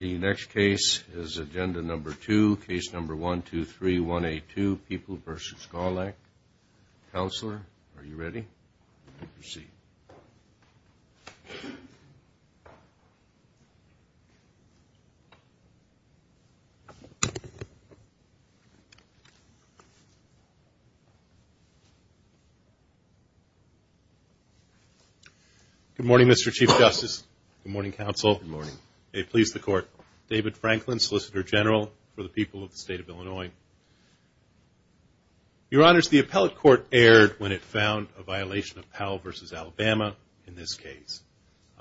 The next case is agenda number two, case number 1-2-3-1-8-2, People v. Gawlak. Counselor, are you ready? Proceed. Good morning, Mr. Chief Justice. Good morning, Counsel. Good morning. May it please the Court. David Franklin, Solicitor General for the people of the state of Illinois. Your Honors, the appellate court erred when it found a violation of Powell v. Alabama in this case,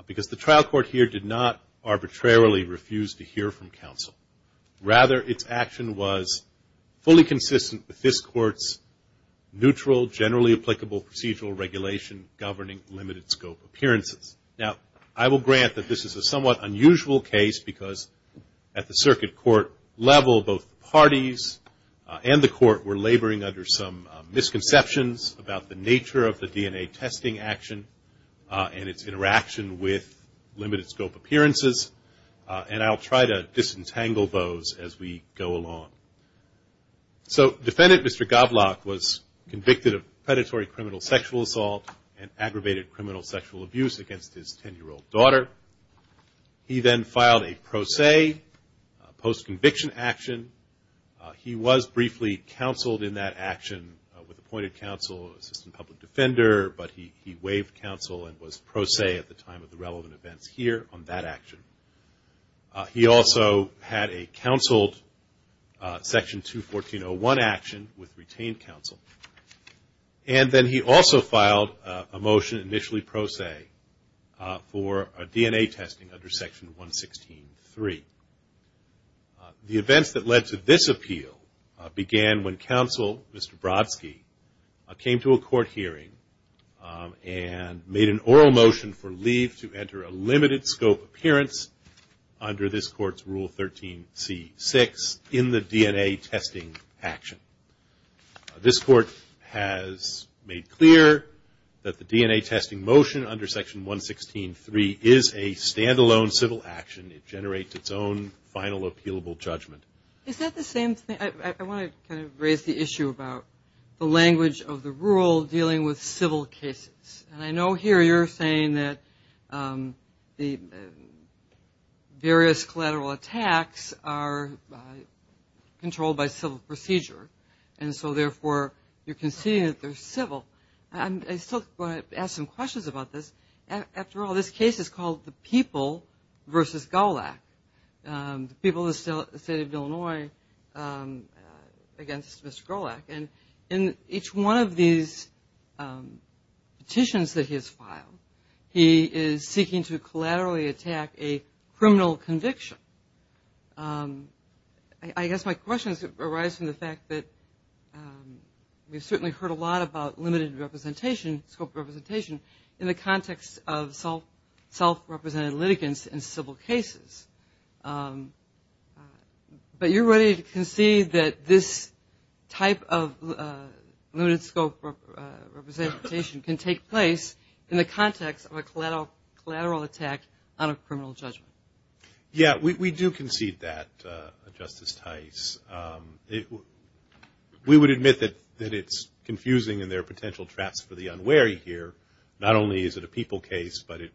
because the trial court here did not arbitrarily refuse to hear from counsel. Rather, its action was fully consistent with this court's neutral, generally applicable procedural regulation governing limited scope appearances. Now, I will grant that this is a somewhat unusual case, because at the circuit court level, both parties and the court were laboring under some misconceptions about the nature of the DNA testing action and its interaction with limited scope appearances. And I'll try to disentangle those as we go along. So, defendant Mr. Gawlak was convicted of predatory criminal sexual assault and aggravated criminal sexual abuse against his 10-year-old daughter. He then filed a pro se, post-conviction action. He was briefly counseled in that action with appointed counsel, assistant public defender, but he waived counsel and was pro se at the time of the relevant events here on that action. He also had a counseled Section 214.01 action with retained counsel. And then he also filed a motion, initially pro se, for DNA testing under Section 116.3. The events that led to this appeal began when counsel, Mr. Brodsky, came to a court hearing and made an oral motion for leave to enter a limited scope appearance under this court's Rule 13c.6 in the DNA testing action. This court has made clear that the DNA testing motion under Section 116.3 is a stand-alone civil action. It generates its own final appealable judgment. Is that the same thing? I want to kind of raise the issue about the language of the rule dealing with civil cases. And I know here you're saying that the various collateral attacks are controlled by civil procedure. And so, therefore, you're conceding that they're civil. I still want to ask some questions about this. After all, this case is called the People v. Golak, the people of the state of Illinois against Mr. Golak. And in each one of these petitions that he has filed, he is seeking to collaterally attack a criminal conviction. I guess my question arises from the fact that we've certainly heard a lot about limited representation, scope representation, in the context of self-represented litigants in civil cases. But you're ready to concede that this type of limited scope representation can take place in the context of a collateral attack on a criminal judgment? Yeah, we do concede that, Justice Tice. We would admit that it's confusing and there are potential traps for the unwary here. Not only is it a people case, but it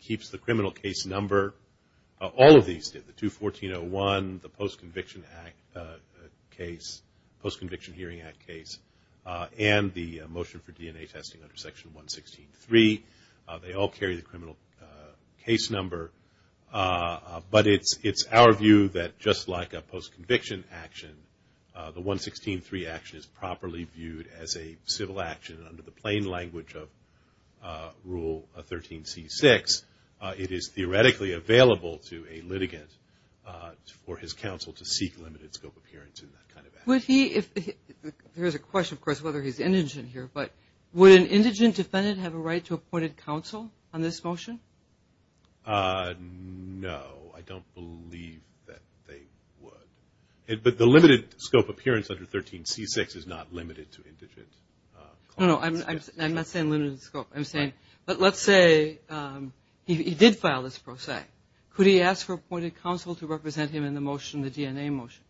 keeps the criminal case number. All of these did, the 214-01, the Post-Conviction Hearing Act case, and the motion for DNA testing under Section 116-3. They all carry the criminal case number, but it's our view that just like a post-conviction action, the 116-3 action is properly viewed as a civil action under the plain language of Rule 13c-6. It is theoretically available to a litigant for his counsel to seek limited scope appearance in that kind of action. Would he, if, there's a question of course whether he's indigent here, but would an indigent defendant have a right to appointed counsel on this motion? No, I don't believe that they would. But the limited scope appearance under 13c-6 is not limited to indigent clients. I'm not saying limited scope, I'm saying, but let's say he did file this pro se. Could he ask for appointed counsel to represent him in the motion, the DNA motion?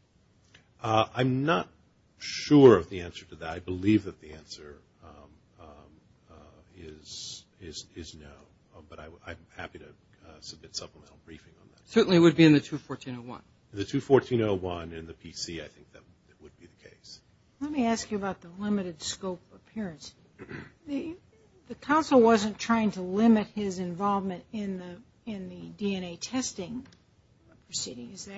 I'm not sure of the answer to that. I believe that the answer is no, but I'm happy to submit supplemental briefing on that. It certainly would be in the 214-01. The 214-01 in the PC, I think that would be the case. Let me ask you about the limited scope appearance. The counsel wasn't trying to limit his involvement in the DNA testing proceedings,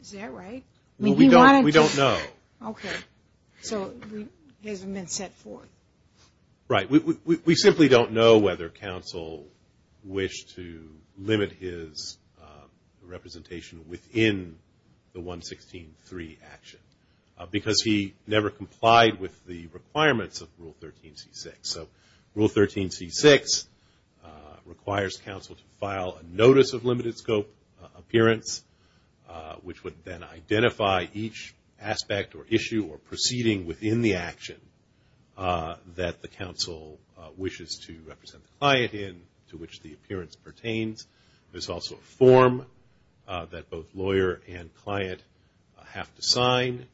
is that right? Well, we don't know. Okay. So it hasn't been set forth. Right. We simply don't know whether counsel wished to limit his representation within the 116-3 action. Because he never complied with the requirements of Rule 13c-6. So Rule 13c-6 requires counsel to file a notice of limited scope appearance, which would then identify each aspect or issue or proceeding within the action that the counsel wishes to represent the client in, to which the appearance pertains. There's also a form that both lawyer and client have to sign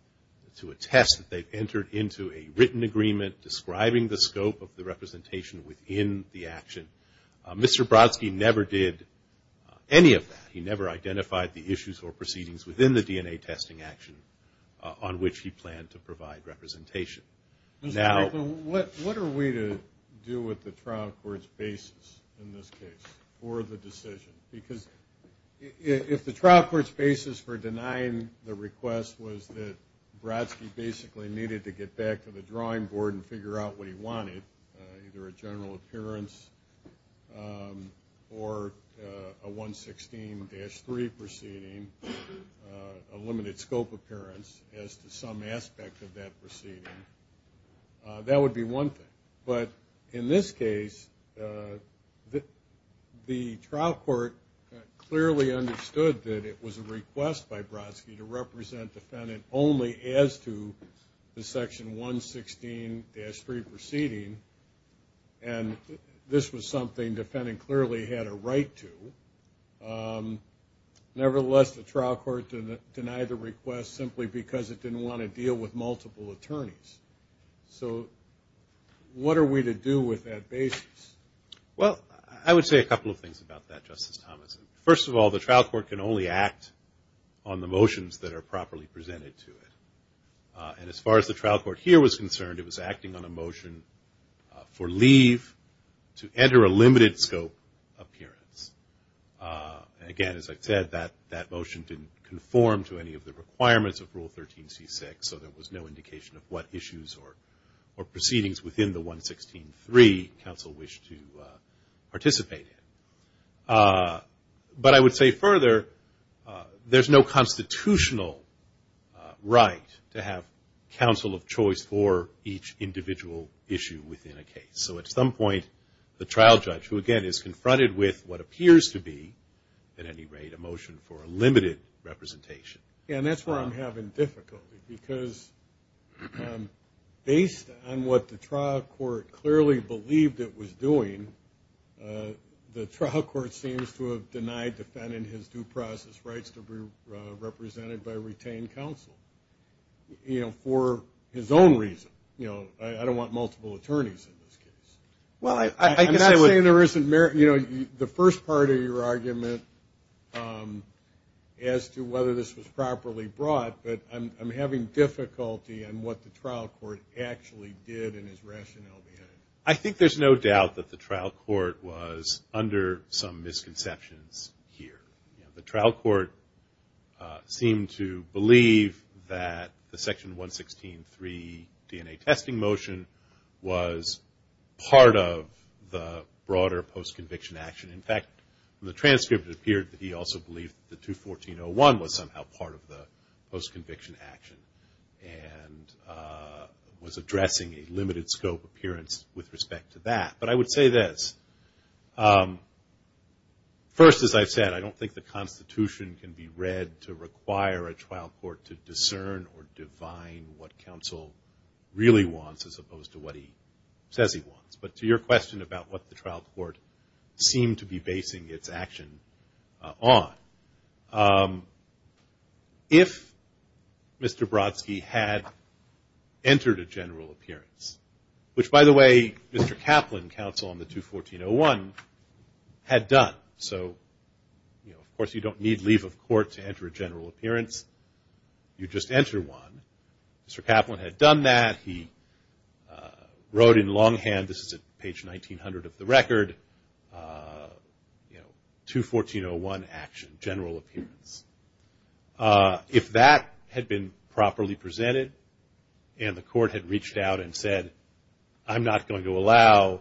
to attest that they've entered into a written agreement describing the scope of the representation within the action. Mr. Brodsky never did any of that. He never identified the issues or proceedings within the DNA testing action on which he planned to provide representation. Now, what are we to do with the trial court's basis in this case for the decision? Because if the trial court's basis for denying the request was that Brodsky basically needed to get back to the drawing board and figure out what he wanted, either a general appearance or a 116-3 proceeding, a limited scope appearance as to some aspect of that proceeding, that would be one thing. But in this case, the trial court clearly understood that it was a request by Brodsky to represent defendant only as to the section 116-3 proceeding. And this was something defendant clearly had a right to. Nevertheless, the trial court denied the request simply because it didn't want to deal with multiple attorneys. So, what are we to do with that basis? Well, I would say a couple of things about that, Justice Thomas. First of all, the trial court can only act on the motions that are properly presented to it. And as far as the trial court here was concerned, it was acting on a motion for leave to enter a limited scope appearance. Again, as I said, that motion didn't conform to any of the requirements of Rule 13c6, so there was no indication of what issues or proceedings within the 116-3 counsel wished to participate in. But I would say further, there's no constitutional right to have counsel of choice for each individual issue within a case. So, at some point, the trial judge, who again is confronted with what appears to be, at any rate, a motion for a limited representation. Yeah, and that's where I'm having difficulty. Because based on what the trial court clearly believed it was doing, the trial court seems to have denied defendant his due process rights to be represented by retained counsel. You know, for his own reason. You know, I don't want multiple attorneys in this case. I'm not saying there isn't merit. You know, the first part of your argument as to whether this was properly brought, but I'm having difficulty in what the trial court actually did and his rationale behind it. I think there's no doubt that the trial court was under some misconceptions here. The trial court seemed to believe that the Section 116-3 DNA testing motion was part of the broader post-conviction action. In fact, the transcript appeared that he also believed that the 214-01 was somehow part of the post-conviction action. And was addressing a limited scope appearance with respect to that. But I would say this. First, as I've said, I don't think the Constitution can be read to require a trial court to discern or divine what counsel really wants as opposed to what he says he wants. But to your question about what the trial court seemed to be basing its action on. If Mr. Brodsky had entered a general appearance, which, by the way, Mr. Kaplan, counsel on the 214-01, had done. So, of course, you don't need leave of court to enter a general appearance. You just enter one. Mr. Kaplan had done that. He wrote in longhand, this is at page 1900 of the record, 214-01 action, general appearance. If that had been properly presented and the court had reached out and said, I'm not going to allow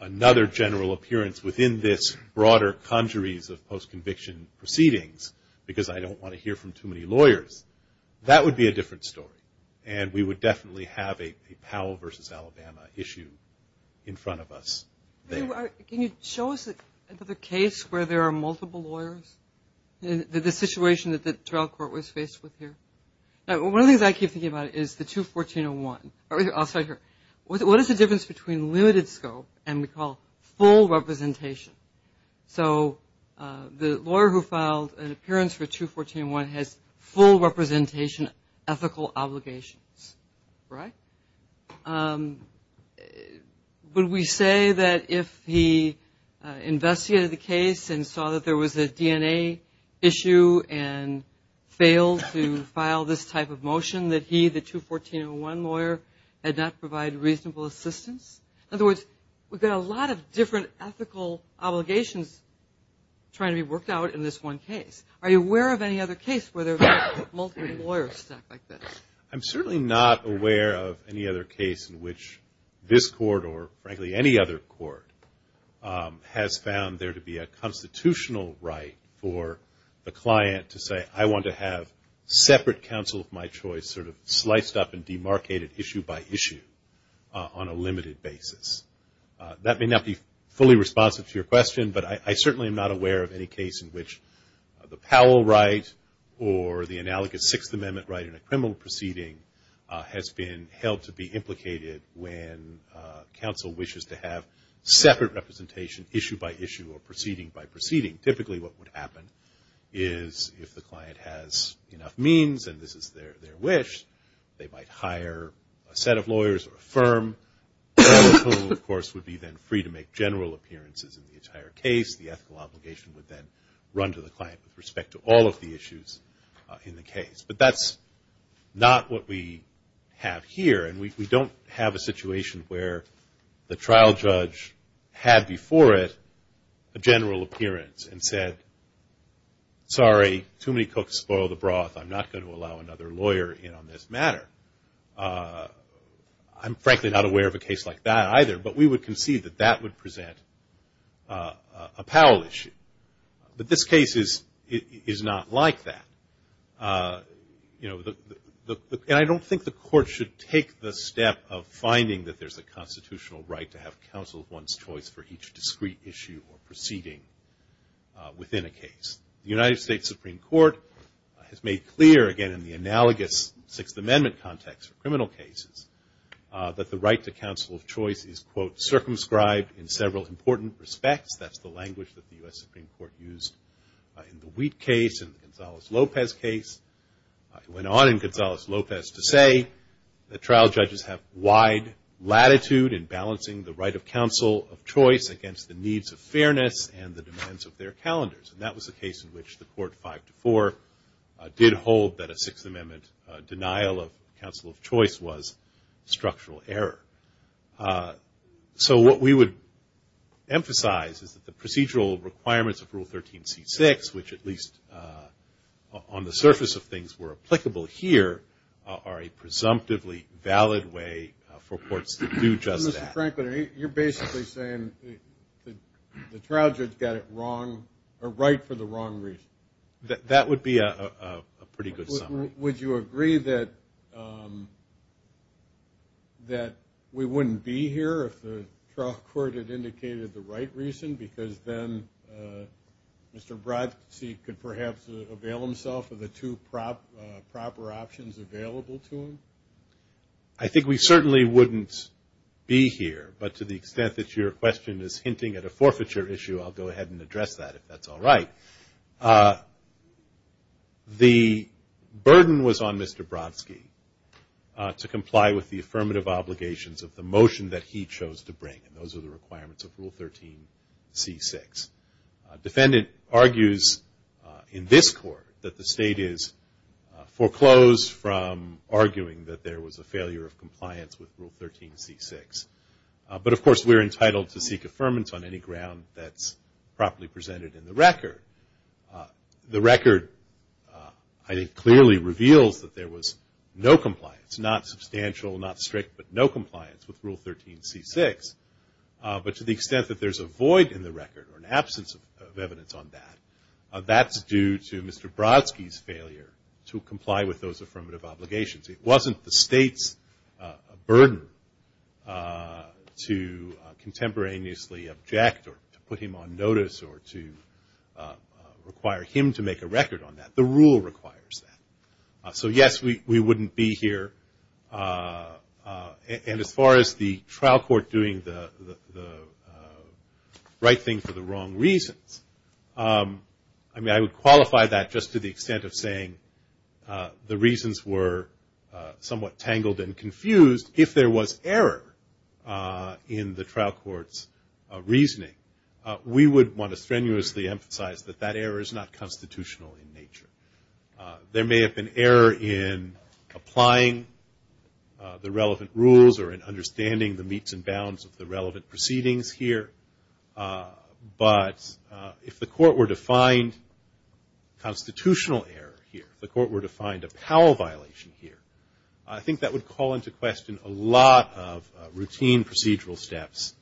another general appearance within this broader conjuries of post-conviction proceedings because I don't want to hear from too many lawyers, that would be a different story. And we would definitely have a Powell versus Alabama issue in front of us there. Can you show us the case where there are multiple lawyers? The situation that the trial court was faced with here? One of the things I keep thinking about is the 214-01. I'll start here. What is the difference between limited scope and what we call full representation? So the lawyer who filed an appearance for 214-01 has full representation ethical obligations, right? Would we say that if he investigated the case and saw that there was a DNA issue and failed to file this type of motion that he, the 214-01 lawyer, had not provided reasonable assistance? In other words, we've got a lot of different ethical obligations trying to be worked out in this one case. Are you aware of any other case where there are multiple lawyers like this? I'm certainly not aware of any other case in which this court, or frankly any other court, has found there to be a constitutional right for the client to say, I want to have separate counsel of my choice sort of sliced up and demarcated issue by issue on a limited basis. That may not be fully responsive to your question, but I certainly am not aware of any case in which the Powell right or the analogous Sixth Amendment right in a criminal proceeding has been held to be implicated when counsel wishes to have separate representation issue by issue or proceeding by proceeding. Typically what would happen is if the client has enough means and this is their wish, they might hire a set of lawyers or a firm, who of course would be then free to make general appearances in the entire case. The ethical obligation would then run to the client with respect to all of the issues in the case. But that's not what we have here. And we don't have a situation where the trial judge had before it a general appearance and said, sorry, too many cooks spoil the broth. I'm not going to allow another lawyer in on this matter. I'm frankly not aware of a case like that either. But we would concede that that would present a Powell issue. But this case is not like that. I don't think the court should take the step of finding that there's a constitutional right to have counsel of one's choice for each discrete issue or proceeding within a case. The United States Supreme Court has made clear, again, in the analogous Sixth Amendment context for criminal cases, that the right to counsel of choice is, quote, circumscribed in several important respects. That's the language that the U.S. Supreme Court used in the Wheat case, in the Gonzales-Lopez case. It went on in Gonzales-Lopez to say that trial judges have wide latitude in balancing the right of counsel of choice against the needs of fairness and the demands of their calendars. And that was a case in which the Court 5-4 did hold that a Sixth Amendment denial of counsel of choice was structural error. So what we would emphasize is that the procedural requirements of Rule 13c6, which at least on the surface of things were applicable here, are a presumptively valid way for courts to do just that. Mr. Franklin, you're basically saying the trial judge got it wrong, or right for the wrong reason. That would be a pretty good summary. Would you agree that we wouldn't be here if the trial court had indicated the right reason because then Mr. Brodsky could perhaps avail himself of the two proper options available to him? I think we certainly wouldn't be here. But to the extent that your question is hinting at a forfeiture issue, I'll go ahead and address that, if that's all right. The burden was on Mr. Brodsky to comply with the affirmative obligations of the motion that he chose to bring, and those are the requirements of Rule 13c6. A defendant argues in this court that the state is foreclosed from arguing that there was a failure of compliance with Rule 13c6. But, of course, we're entitled to seek affirmance on any ground that's properly presented in the record. The record, I think, clearly reveals that there was no compliance, not substantial, not strict, but no compliance with Rule 13c6. But to the extent that there's a void in the record or an absence of evidence on that, that's due to Mr. Brodsky's failure to comply with those affirmative obligations. It wasn't the state's burden to contemporaneously object or to put him on notice or to require him to make a record on that. The rule requires that. So, yes, we wouldn't be here. And as far as the trial court doing the right thing for the wrong reasons, I mean, I would qualify that just to the extent of saying the reasons were somewhat tangled and confused. If there was error in the trial court's reasoning, we would want to strenuously emphasize that that error is not constitutional in nature. There may have been error in applying the relevant rules or in understanding the meets and bounds of the relevant proceedings here. But if the court were to find constitutional error here, if the court were to find a Powell violation here, I think that would call into question a lot of routine procedural steps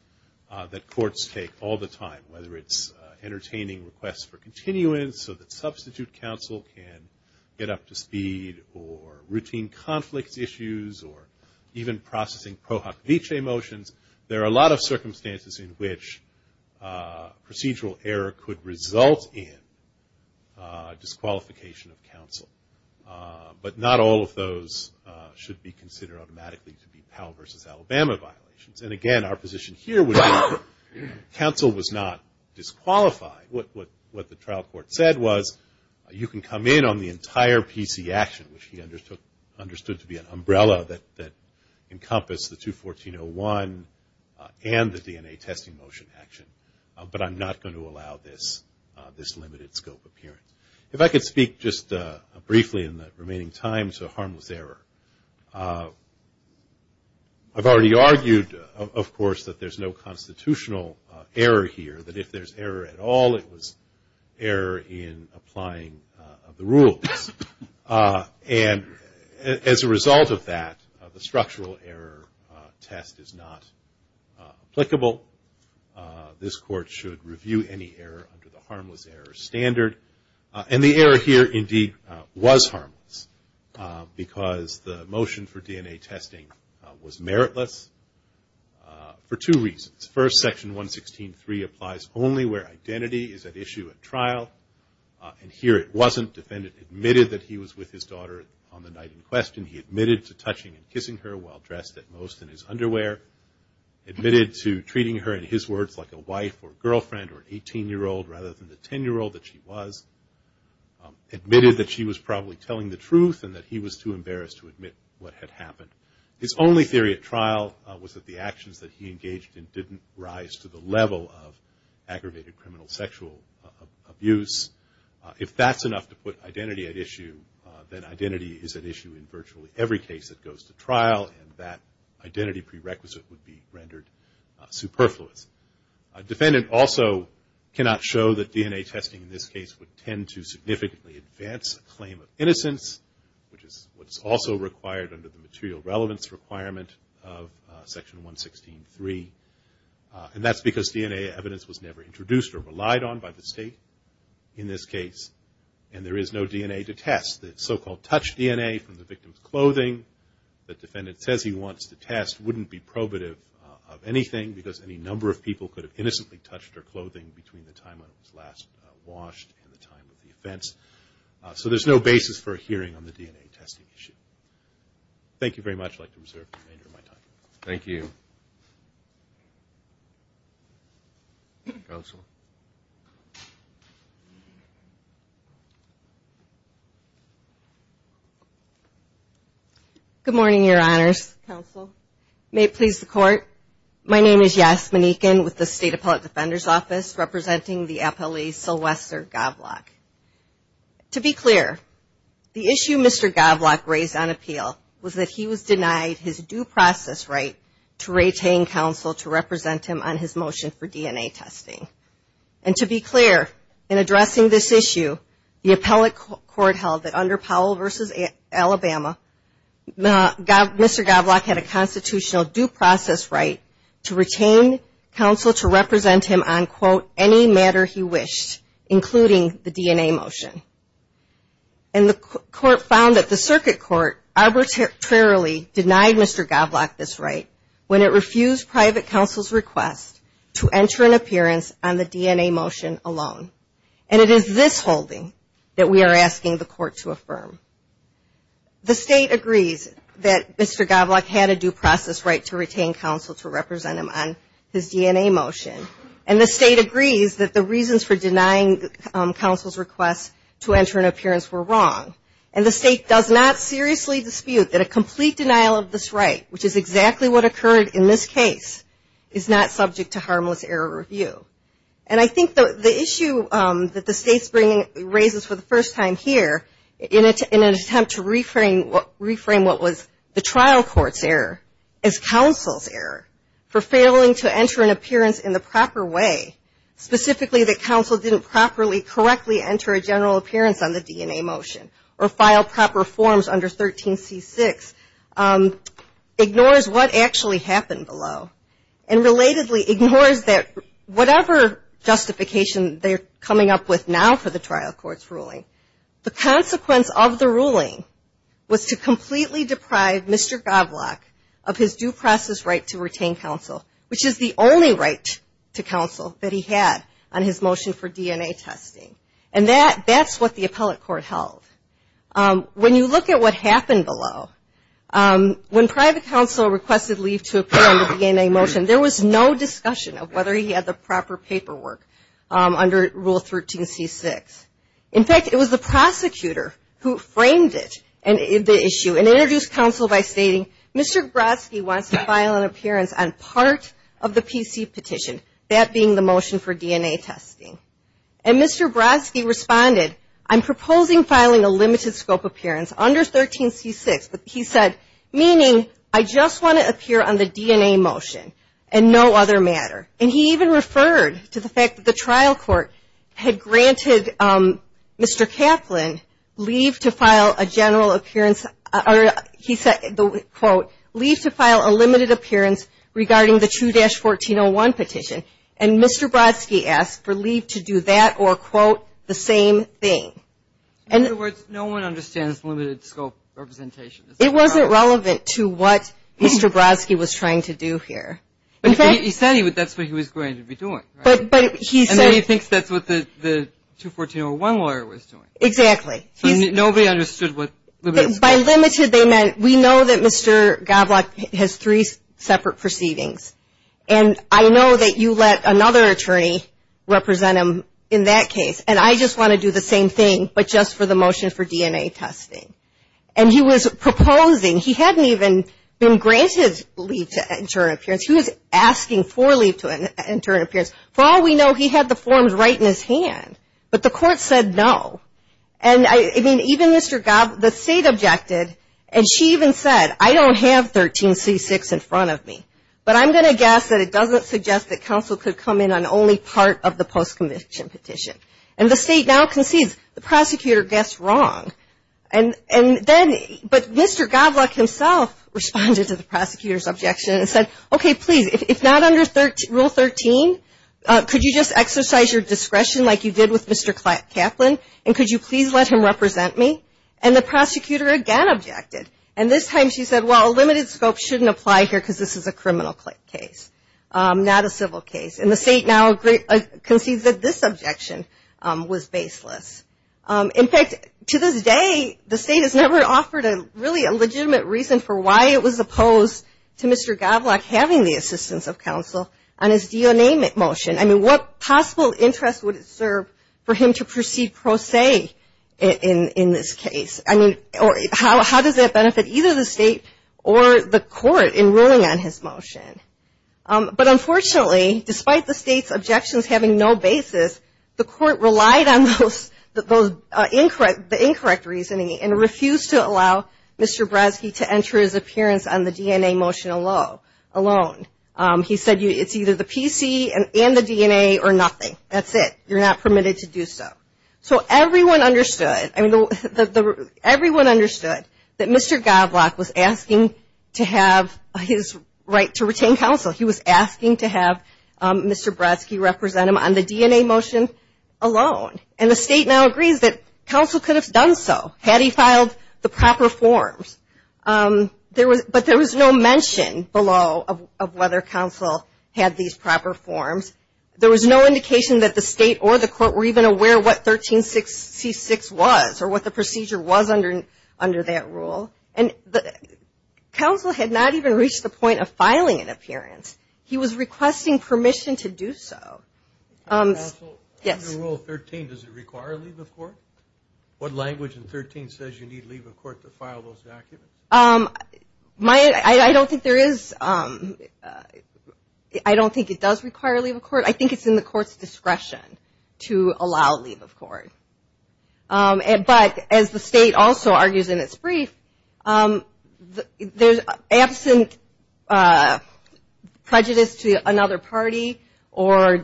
that courts take all the time, whether it's entertaining requests for continuance so that substitute counsel can get up to speed, or routine conflict issues, or even processing Pro Hoc Vitae motions. There are a lot of circumstances in which procedural error could result in disqualification of counsel. But not all of those should be considered automatically to be Powell versus Alabama violations. And, again, our position here would be counsel was not disqualified. What the trial court said was you can come in on the entire PC action, which he understood to be an umbrella that encompassed the 214-01 and the DNA testing motion action, but I'm not going to allow this limited scope appearance. If I could speak just briefly in the remaining time to harmless error. I've already argued, of course, that there's no constitutional error here, that if there's error at all, it was error in applying the rules. And as a result of that, the structural error test is not applicable. This court should review any error under the harmless error standard. And the error here, indeed, was harmless, because the motion for DNA testing was meritless for two reasons. First, Section 116.3 applies only where identity is at issue at trial. And here it wasn't. Defendant admitted that he was with his daughter on the night in question. He admitted to touching and kissing her while dressed, at most, in his underwear. Admitted to treating her, in his words, like a wife or a girlfriend or an 18-year-old rather than the 10-year-old that she was. Admitted that she was probably telling the truth and that he was too embarrassed to admit what had happened. His only theory at trial was that the actions that he engaged in didn't rise to the level of aggravated criminal sexual abuse. If that's enough to put identity at issue, then identity is at issue in virtually every case that goes to trial, and that identity prerequisite would be rendered superfluous. A defendant also cannot show that DNA testing in this case would tend to significantly advance a claim of innocence, which is what's also required under the material relevance requirement of Section 116.3. And that's because DNA evidence was never introduced or relied on by the state in this case, and there is no DNA to test. The so-called touch DNA from the victim's clothing that the defendant says he wants to test wouldn't be probative of anything because any number of people could have innocently touched her clothing between the time when it was last washed and the time of the offense. So there's no basis for a hearing on the DNA testing issue. Thank you very much. I'd like to reserve the remainder of my time. Thank you. Good morning, Your Honors. May it please the Court. My name is Yasmin Eakin with the State Appellate Defender's Office representing the appellee Sylvester Goblock. To be clear, the issue Mr. Goblock raised on appeal was that he was denied his due process right to retain counsel to represent him on his motion for DNA testing. And to be clear, in addressing this issue, the appellate court held that under Powell v. Alabama, Mr. Goblock had a constitutional due process right to retain counsel to represent him on, quote, any matter he wished, including the DNA motion. And the court found that the circuit court arbitrarily denied Mr. Goblock this right when it refused private counsel's request to enter an appearance on the DNA motion alone. And it is this holding that we are asking the court to affirm. The State agrees that Mr. Goblock had a due process right to retain counsel to represent him on his DNA motion. And the State agrees that the reasons for denying counsel's request to enter an appearance were wrong. And the State does not seriously dispute that a complete denial of this right, which is exactly what occurred in this case, is not subject to harmless error review. And I think the issue that the State raises for the first time here, in an attempt to reframe what was the trial court's error as counsel's error for failing to enter an appearance in the proper way, specifically that counsel didn't properly, correctly enter a general appearance on the DNA motion or file proper forms under 13C6, ignores what actually happened below. And relatedly ignores that whatever justification they're coming up with now for the trial court's ruling, the consequence of the ruling was to completely deprive Mr. Goblock of his due process right to retain counsel, which is the only right to counsel that he had on his motion for DNA testing. And that's what the appellate court held. When you look at what happened below, when private counsel requested leave to appear on the DNA motion, there was no discussion of whether he had the proper paperwork under Rule 13C6. In fact, it was the prosecutor who framed it, the issue, and introduced counsel by stating, Mr. Brodsky wants to file an appearance on part of the PC petition, that being the motion for DNA testing. And Mr. Brodsky responded, I'm proposing filing a limited scope appearance under 13C6, but he said, meaning I just want to appear on the DNA motion and no other matter. And he even referred to the fact that the trial court had granted Mr. Kaplan leave to file a general appearance, or he said, quote, leave to file a limited appearance regarding the 2-1401 petition. And Mr. Brodsky asked for leave to do that or, quote, the same thing. In other words, no one understands limited scope representation. It wasn't relevant to what Mr. Brodsky was trying to do here. He said that's what he was going to be doing. And then he thinks that's what the 21401 lawyer was doing. Exactly. So nobody understood what limited scope. By limited, they meant we know that Mr. Gablock has three separate proceedings, and I know that you let another attorney represent him in that case, and I just want to do the same thing but just for the motion for DNA testing. And he was proposing, he hadn't even been granted leave to enter an appearance. He was asking for leave to enter an appearance. For all we know, he had the forms right in his hand, but the court said no. And even Mr. Gablock, the state objected, and she even said, I don't have 13C6 in front of me, but I'm going to guess that it doesn't suggest that counsel could come in on only part of the post-conviction petition. And the state now concedes. The prosecutor guessed wrong. But Mr. Gablock himself responded to the prosecutor's objection and said, okay, please, if not under Rule 13, could you just exercise your discretion like you did with Mr. Kaplan, and could you please let him represent me? And the prosecutor again objected. And this time she said, well, a limited scope shouldn't apply here because this is a criminal case, not a civil case. And the state now concedes that this objection was baseless. In fact, to this day, the state has never offered really a legitimate reason for why it was opposed to Mr. Gablock having the assistance of counsel on his DNA motion. I mean, what possible interest would it serve for him to proceed pro se in this case? I mean, how does that benefit either the state or the court in ruling on his motion? But unfortunately, despite the state's objections having no basis, the court relied on the incorrect reasoning and refused to allow Mr. Brodsky to enter his appearance on the DNA motion alone. He said it's either the PC and the DNA or nothing. That's it. You're not permitted to do so. So everyone understood that Mr. Gablock was asking to have his right to retain counsel. He was asking to have Mr. Brodsky represent him on the DNA motion alone. And the state now agrees that counsel could have done so had he filed the proper forms. But there was no mention below of whether counsel had these proper forms. There was no indication that the state or the court were even aware what 1366 was or what the procedure was under that rule. And counsel had not even reached the point of filing an appearance. He was requesting permission to do so. Under Rule 13, does it require leave of court? I don't think it does require leave of court. I think it's in the court's discretion to allow leave of court. But as the state also argues in its brief, absent prejudice to another party or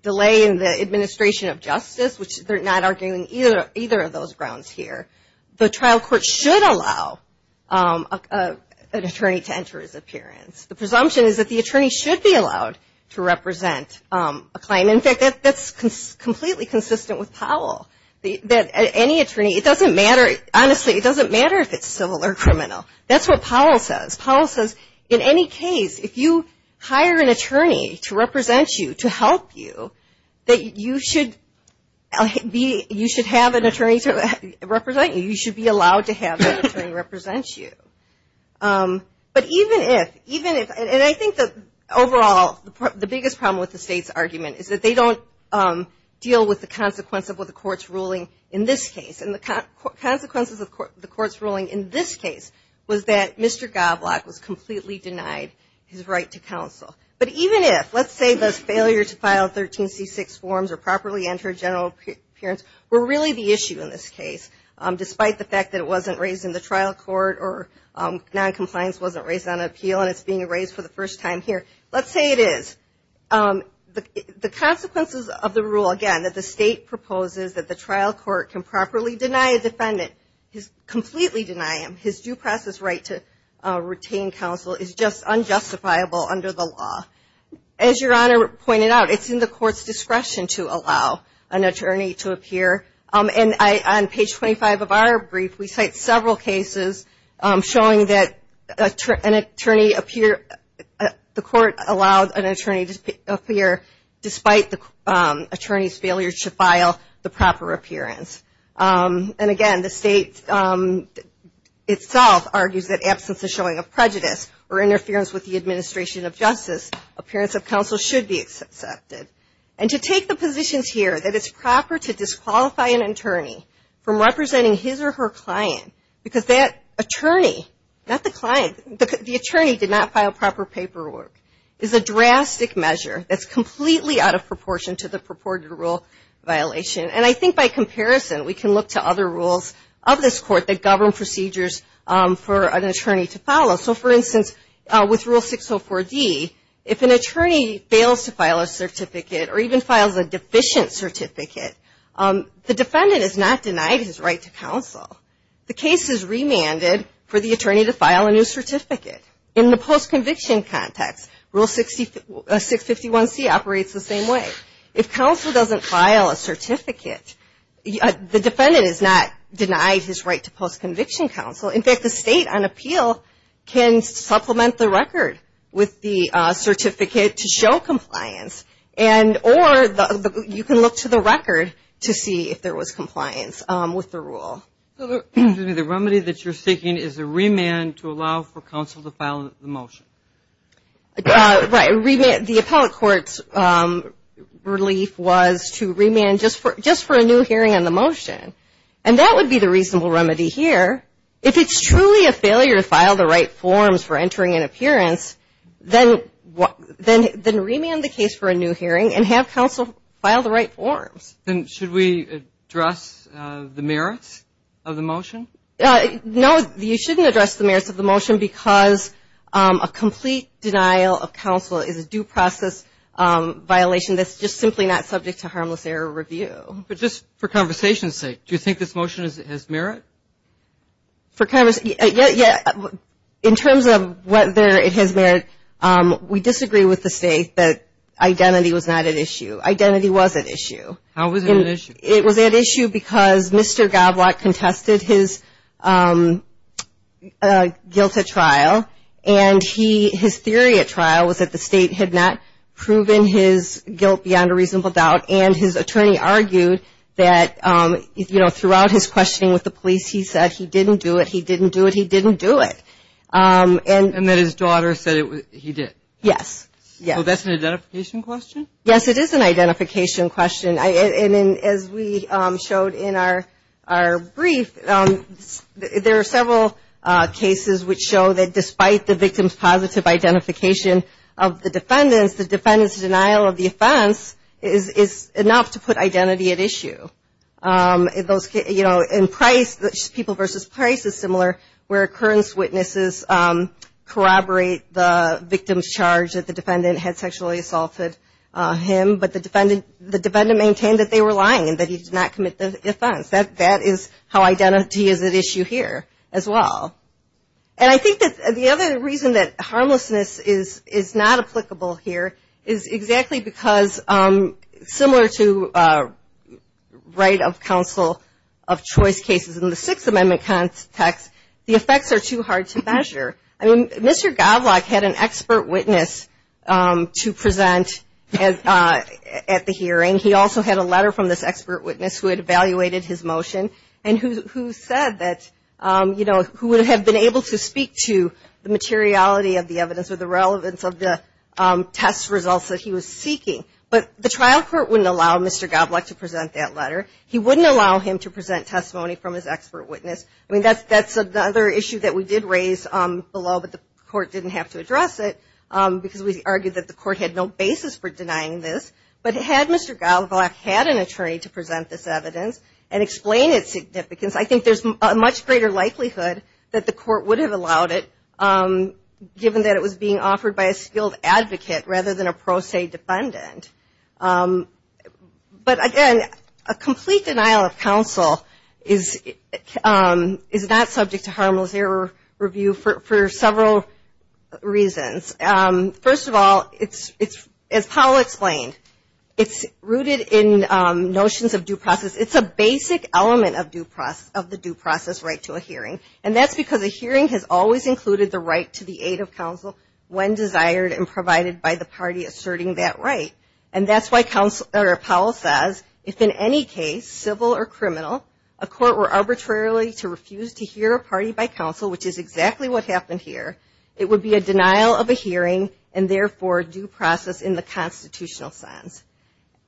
delay in the administration of justice, which they're not arguing either of those grounds here, the trial court should allow an attorney to enter his appearance. The presumption is that the attorney should be allowed to represent a claim. In fact, that's completely consistent with Powell. Honestly, it doesn't matter if it's civil or criminal. That's what Powell says. Powell says, in any case, if you hire an attorney to represent you, to help you, that you should have an attorney to represent you. You should be allowed to have an attorney represent you. And I think that overall, the biggest problem with the state's argument is that they don't deal with the consequence of what the court's ruling in this case. And the consequences of the court's ruling in this case was that Mr. Goblock was completely denied his right to counsel. But even if, let's say the failure to file 13C6 forms or properly enter general appearance were really the issue in this case, despite the fact that it wasn't raised in the trial court or noncompliance wasn't raised on appeal and it's being raised for the first time here. Let's say it is. The consequences of the rule, again, that the state proposes that the trial court can properly deny a defendant, completely deny him his due process right to retain counsel is just unjustifiable under the law. As Your Honor pointed out, it's in the court's discretion to allow an attorney to appear. And on page 25 of our brief, we cite several cases showing that an attorney appear, the court allowed an attorney to appear despite the attorney's failure to file the proper appearance. And again, the state itself argues that absence of showing of prejudice or interference with the administration of justice, appearance of counsel should be accepted. And to take the positions here that it's proper to disqualify an attorney from representing his or her client, because that attorney, not the client, the attorney did not file proper paperwork, is a drastic measure that's completely out of proportion to the purported rule violation. And I think by comparison we can look to other rules of this court that govern procedures for an attorney to follow. So for instance, with Rule 604D, if an attorney fails to file a certificate or even files a deficient certificate, the defendant is not denied his right to counsel. The case is remanded for the attorney to file a new certificate. In the post-conviction context, Rule 651C operates the same way. If counsel doesn't file a certificate, the defendant is not denied his right to post-conviction counsel. In fact, the state on appeal can supplement the record with the certificate to show compliance. Or you can look to the record to see if there was compliance with the rule. The remedy that you're seeking is a remand to allow for counsel to file the motion. Right. The appellate court's relief was to remand just for a new hearing on the motion. And that would be the reasonable remedy here. If it's truly a failure to file the right forms for entering and appearance, then remand the case for a new hearing and have counsel file the right forms. Then should we address the merits of the motion? No, you shouldn't address the merits of the motion because a complete denial of counsel is a due process violation that's just simply not subject to harmless error review. But just for conversation's sake, do you think this motion has merit? In terms of whether it has merit, we disagree with the state that identity was not at issue. Identity was at issue. How was it at issue? It was at issue because Mr. Goblock contested his guilt at trial and his theory at trial was that the state had not proven his guilt beyond a reasonable doubt and his attorney argued that throughout his questioning with the police, he said he didn't do it, he didn't do it, he didn't do it. And that his daughter said he did. Well, that's an identification question? Yes, it is an identification question. And as we showed in our brief, there are several cases which show that despite the victim's positive identification of the defendants, the defendant's denial of the offense is enough to put identity at issue. In Price, people versus Price is similar, where occurrence witnesses corroborate the victim's charge that the defendant had sexually assaulted him, but the defendant maintained that they were lying and that he did not commit the offense. That is how identity is at issue here as well. And I think that the other reason that harmlessness is not applicable here is exactly because, similar to right of counsel of choice cases in the Sixth Amendment context, the effects are too hard to measure. I mean, Mr. Goblock had an expert witness to present at the hearing. He also had a letter from this expert witness who had evaluated his motion and who said that, you know, who would have been able to speak to the materiality of the evidence or the relevance of the test results that he was seeking. But the trial court wouldn't allow Mr. Goblock to present that letter. He wouldn't allow him to present testimony from his expert witness. I mean, that's another issue that we did raise below, but the court didn't have to address it, because we argued that the court had no basis for denying this. But had Mr. Goblock had an attorney to present this evidence and explain its significance, I think there's a much greater likelihood that the court would have allowed it, given that it was being offered by a skilled advocate rather than a pro se defendant. But again, a complete denial of counsel is not subject to harmless error review for several reasons. First of all, it's, as Paul explained, it's rooted in notions of due process. It's a basic element of the due process right to a hearing, and that's because a hearing has always included the right to the aid of counsel when desired and provided by the party asserting that right. And that's why Paul says, if in any case, civil or criminal, a court were arbitrarily to refuse to hear a party by counsel, which is exactly what happened here, it would be a denial of a hearing and therefore due process in the constitutional sense.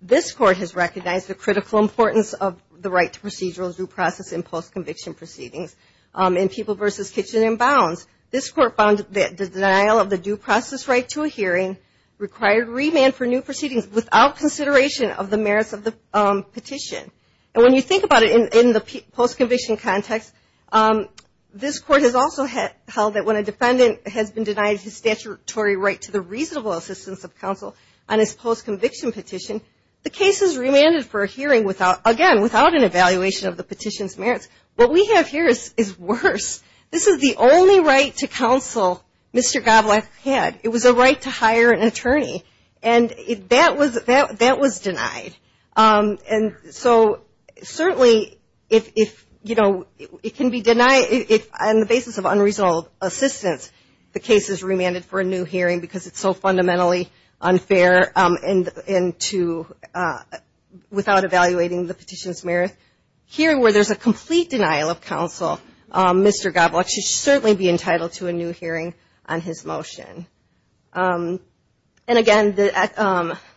This court has recognized the critical importance of the right to procedural due process in post-conviction proceedings in People v. Kitchen and Bounds. This court found that the denial of the due process right to a hearing required remand for new proceedings without consideration of the merits of the petition. And when you think about it in the post-conviction context, this court has also held that when a defendant has been denied his statutory right to the reasonable assistance of counsel on his post-conviction petition, the case is remanded for a hearing without, again, without an evaluation of the petition's merits. What we have here is worse. This is the only right to counsel Mr. Goblet had. It was a right to hire an attorney, and that was denied. And so certainly if, you know, it can be denied on the basis of unreasonable assistance, the case is remanded for a new hearing because it's so fundamentally unfair without evaluating the petition's merits. Here, where there's a complete denial of counsel, Mr. Goblet should certainly be entitled to a new hearing on his motion. And again, it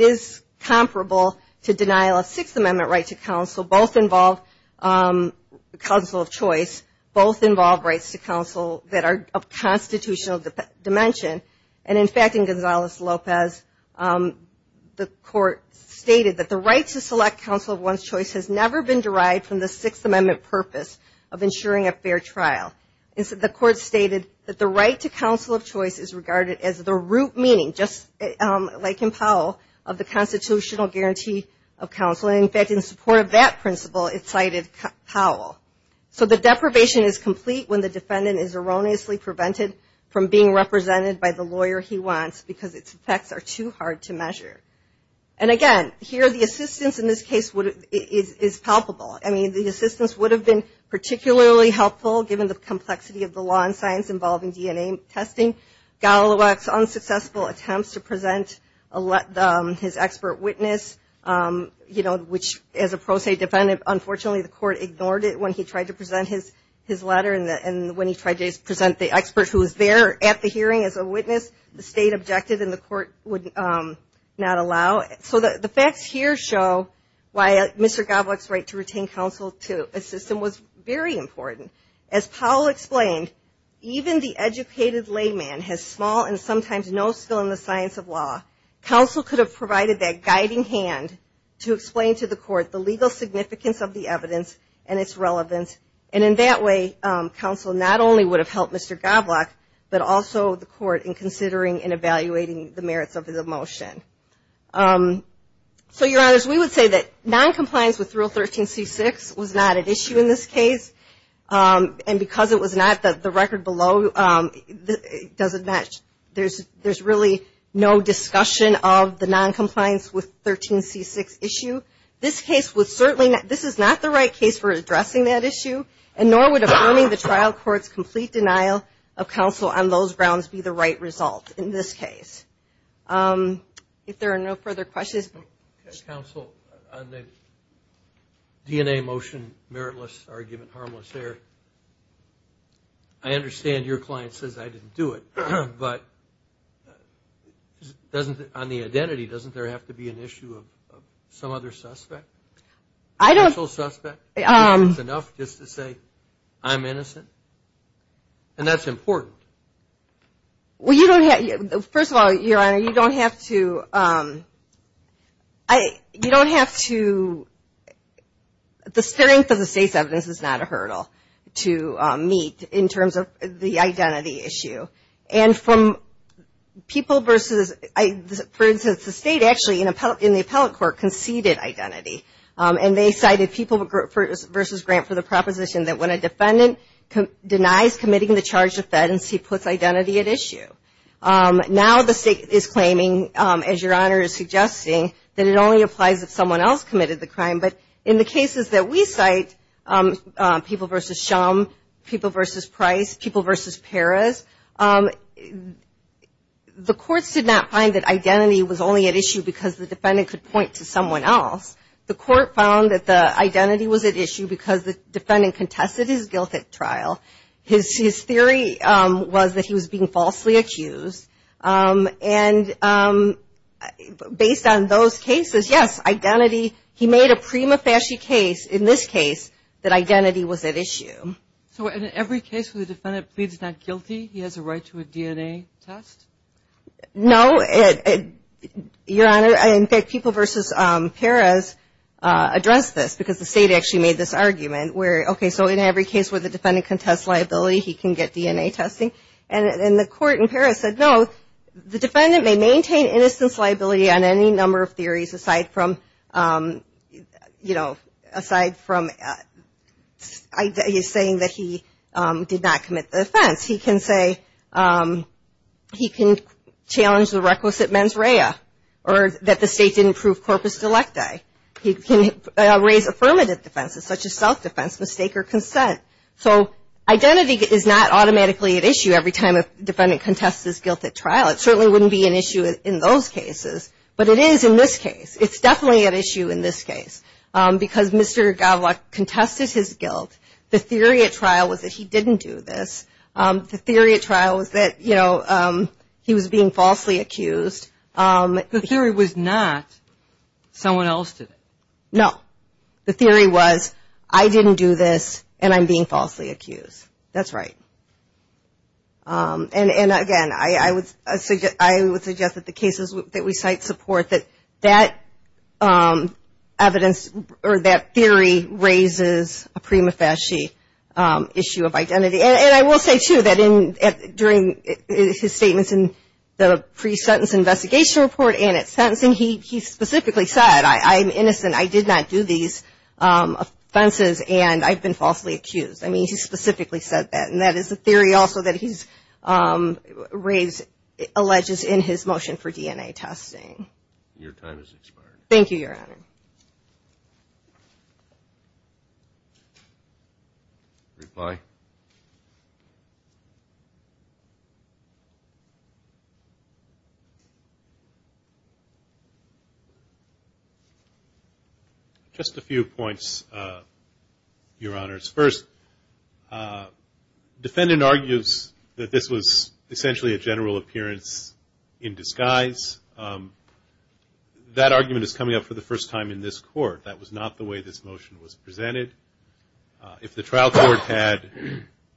is comparable to denial of Sixth Amendment right to counsel. Both involve counsel of choice. Both involve rights to counsel that are of constitutional dimension. And in fact, in Gonzales-Lopez, the court stated that the right to select counsel of one's choice has never been derived from the Sixth Amendment purpose of ensuring a fair trial. The court stated that the right to counsel of choice is regarded as the root meaning, just like in Powell, of the constitutional guarantee of counsel. And in fact, in support of that principle, it cited Powell. So the deprivation is complete when the defendant is erroneously prevented from being represented by the lawyer he wants because its effects are too hard to measure. And again, here the assistance in this case is palpable. I mean, the assistance would have been particularly helpful given the complexity of the law and science involving DNA testing. Goblet's unsuccessful attempts to present his expert witness, which as a pro se defendant, unfortunately the court ignored it when he tried to present his letter and when he tried to present the expert who was there at the hearing as a witness, the state objected and the court would not allow. So the facts here show why Mr. Goblet's right to retain counsel to a system was very important. As Powell explained, even the educated layman has small and sometimes no skill in the science of law. Counsel could have provided that guiding hand to explain to the court the legal significance of the evidence and its relevance, and in that way, counsel not only would have helped Mr. Goblet, but also the court in considering and evaluating the merits of the motion. So, Your Honors, we would say that noncompliance with Rule 13c6 was not an issue in this case. And because it was not the record below, there's really no discussion of the noncompliance with 13c6 issue. This case was certainly not, this is not the right case for addressing that issue and nor would affirming the trial court's complete denial of counsel on those grounds be the right result in this case. If there are no further questions. Counsel, on the DNA motion, meritless argument, harmless error, I understand your client says, I didn't do it. But on the identity, doesn't there have to be an issue of some other suspect? I don't. And that's important. Well, you don't have, first of all, Your Honor, you don't have to, you don't have to, the strength of the state's evidence is not a hurdle to meet in terms of the identity issue. And from people versus, for instance, the state actually in the appellate court conceded identity. And they cited people versus grant for the proposition that when a defendant denies committing the charged offense, he puts identity at issue. Now the state is claiming, as Your Honor is suggesting, that it only applies if someone else committed the crime. But in the cases that we cite, people versus Shum, people versus Price, people versus Perez, the courts did not find that identity was only at issue because the defendant could point to someone else. The court found that the identity was at issue because the defendant contested his guilt at trial. His theory was that he was being falsely accused. And based on those cases, yes, identity, he made a prima facie case in this case that identity was at issue. So in every case where the defendant pleads not guilty, he has a right to a DNA test? No, Your Honor. In fact, people versus Perez addressed this because the state actually made this argument where, okay, so in every case where the defendant contests liability, he can get DNA testing. And the court in Perez said, no, the defendant may maintain innocence liability on any number of theories aside from, you know, aside from, he's saying that he did not commit the offense. He can say, he can challenge the requisite mens rea or that the state didn't prove corpus delecti. He can raise affirmative defenses such as self-defense, mistake or consent. So identity is not automatically at issue every time a defendant contests his guilt at trial. It certainly wouldn't be an issue in those cases, but it is in this case. It's definitely an issue in this case because Mr. Godlock contested his guilt. The theory at trial was that he didn't do this. The theory at trial was that, you know, he was being falsely accused. The theory was not someone else did it? No. The theory was I didn't do this and I'm being falsely accused. That's right. And again, I would suggest that the cases that we cite support that that evidence or that theory raises a prima facie issue of identity. And I will say, too, that during his statements in the pre-sentence investigation report and at sentencing, he specifically said, I'm innocent, I did not do these offenses and I've been falsely accused. I mean, he specifically said that. And that is the theory also that he's raised alleges in his motion for DNA testing. Your time has expired. Thank you, Your Honor. Reply. Just a few points, Your Honors. First, defendant argues that this was essentially a general appearance in disguise. That argument is coming up for the first time in this court. That was not the way this motion was presented. If the trial court had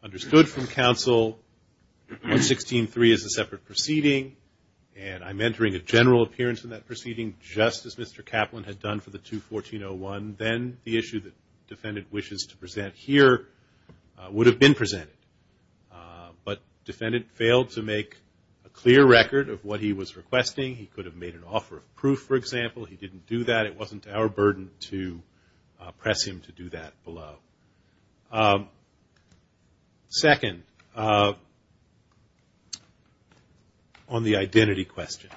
understood from counsel 116.3 is a separate proceeding and I'm entering a general appearance in that proceeding just as Mr. Kaplan had done for the 214.01, then the issue that the defendant wishes to present here would have been presented. But defendant failed to make a clear record of what he was requesting. He could have made an offer of proof, for example. He didn't do that. It wasn't our burden to press him to do that below. Second, on the identity question.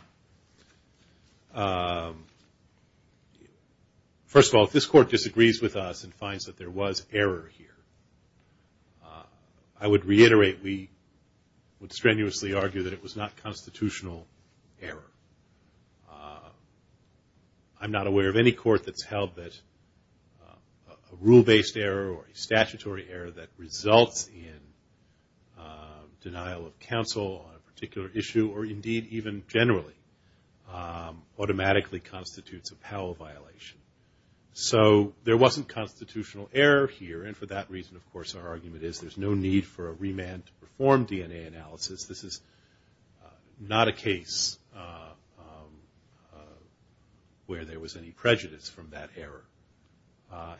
First of all, if this court disagrees with us and finds that there was error here, I would reiterate, we would strenuously argue that it was not constitutional error. I'm not aware of any court that's held that a rule-based error or a statutory error that results in denial of counsel on a particular issue or indeed even generally automatically constitutes a Powell violation. So there wasn't constitutional error here and for that reason, of course, our argument is there's no need for a remand to perform DNA analysis. This is not a case where there was any prejudice from that error.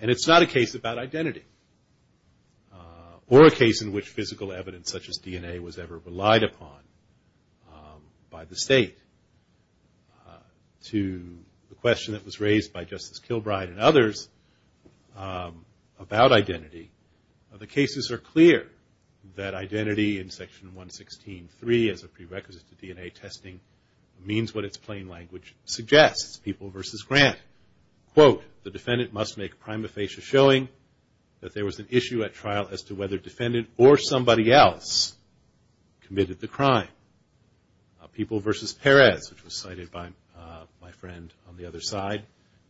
And it's not a case about identity or a case in which physical evidence such as DNA was ever relied upon by the state. To the question that was raised by Justice Kilbride and others about identity, the cases are clear that identity in Section 116.3 as a prerequisite to DNA testing means what its plain language suggests, people versus grant. Quote, the defendant must make prima facie showing that there was an issue at trial as to whether defendant or somebody else committed the crime. People versus Perez, which was cited by my friend on the other side.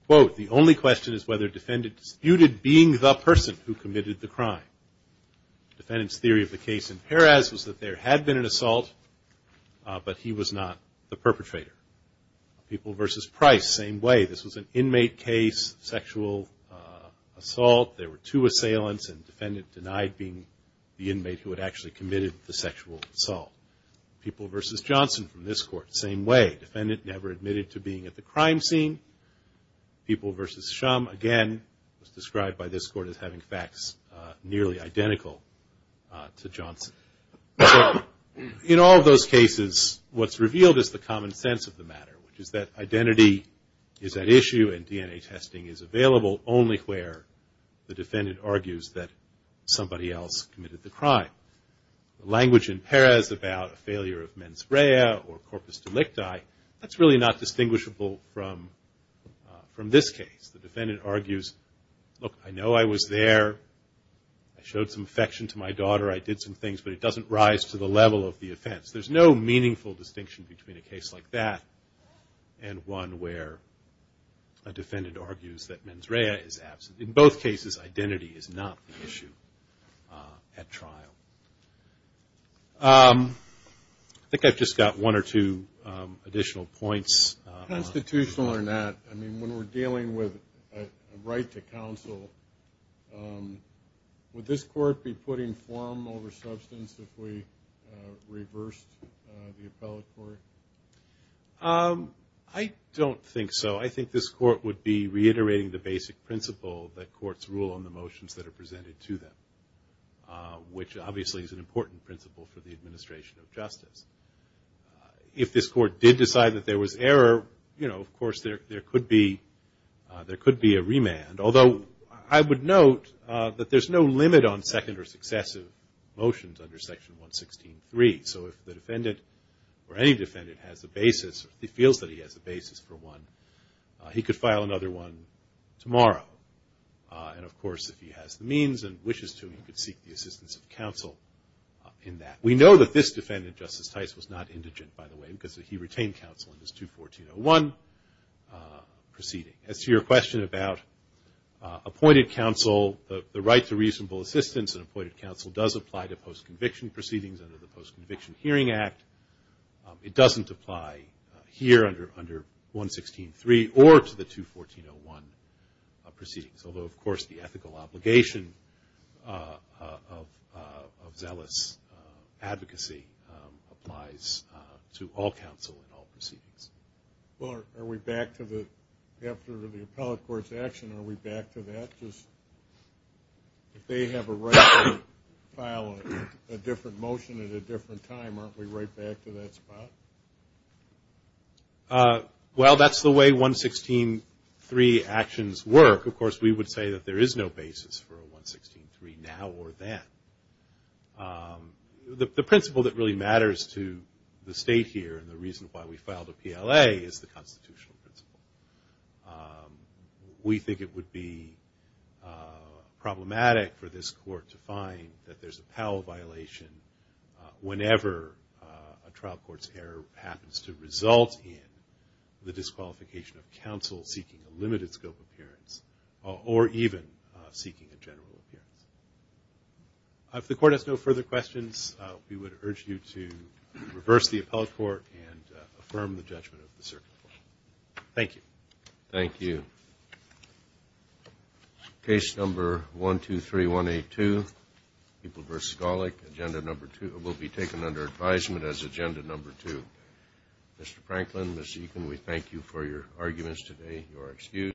Quote, the only question is whether defendant disputed being the person who committed the crime. Defendant's theory of the case in Perez was that there had been an assault but he was not the perpetrator. People versus Price, same way. This was an inmate case, sexual assault. There were two assailants and defendant denied being the inmate who had actually committed the sexual assault. People versus Johnson from this court, same way. Defendant never admitted to being at the crime scene. People versus Shum, again, was described by this court as having facts nearly identical to Johnson. In all those cases, what's revealed is the common sense of the matter, which is that identity is at issue and DNA testing is available only where the defendant argues that somebody else committed the crime. Language in Perez about a failure of mens rea or corpus delicti, that's really not distinguishable from this case. The defendant argues, look, I know I was there. I showed some affection to my daughter. I did some things, but it doesn't rise to the level of the offense. There's no meaningful distinction between a case like that and one where a defendant argues that mens rea is absent. In both cases, identity is not the issue at trial. I think I've just got one or two additional points. Constitutional or not, when we're dealing with a right to counsel, would this court be putting form over substance if we reversed the appellate court? I don't think so. I think this court would be reiterating the basic principle that obviously is an important principle for the administration of justice. If this court did decide that there was error, of course there could be a remand. Although I would note that there's no limit on second or successive motions under Section 116.3. If the defendant or any defendant has a basis or feels that he has a basis for one, he could file another one tomorrow. Of course, if he has the means and wishes to, he could seek the assistance of counsel in that. We know that this defendant, Justice Tice, was not indigent, by the way, because he retained counsel in his 214.01 proceeding. As to your question about appointed counsel, the right to reasonable assistance in appointed counsel does apply to post-conviction proceedings under the Post-Conviction Hearing Act. It doesn't apply here under 116.3 or to the 214.01 proceeding. Although, of course, the ethical obligation of zealous advocacy applies to all counsel in all proceedings. Well, are we back to the, after the appellate court's action, are we back to that? If they have a right to file a different motion at a different time, aren't we right back to that spot? Well, that's the way 116.3 actions work. Of course, we would say that there is no basis for a 116.3 now or then. The principle that really matters to the state here and the reason why we filed a PLA is the constitutional principle. We think it would be problematic for this court to find that there's a Powell violation whenever a trial court's error happens to result in the disqualification of counsel seeking a limited scope appearance or even seeking a general appearance. If the court has no further questions, we would urge you to reverse the appellate court and affirm the judgment of the circuit court. Thank you. Thank you.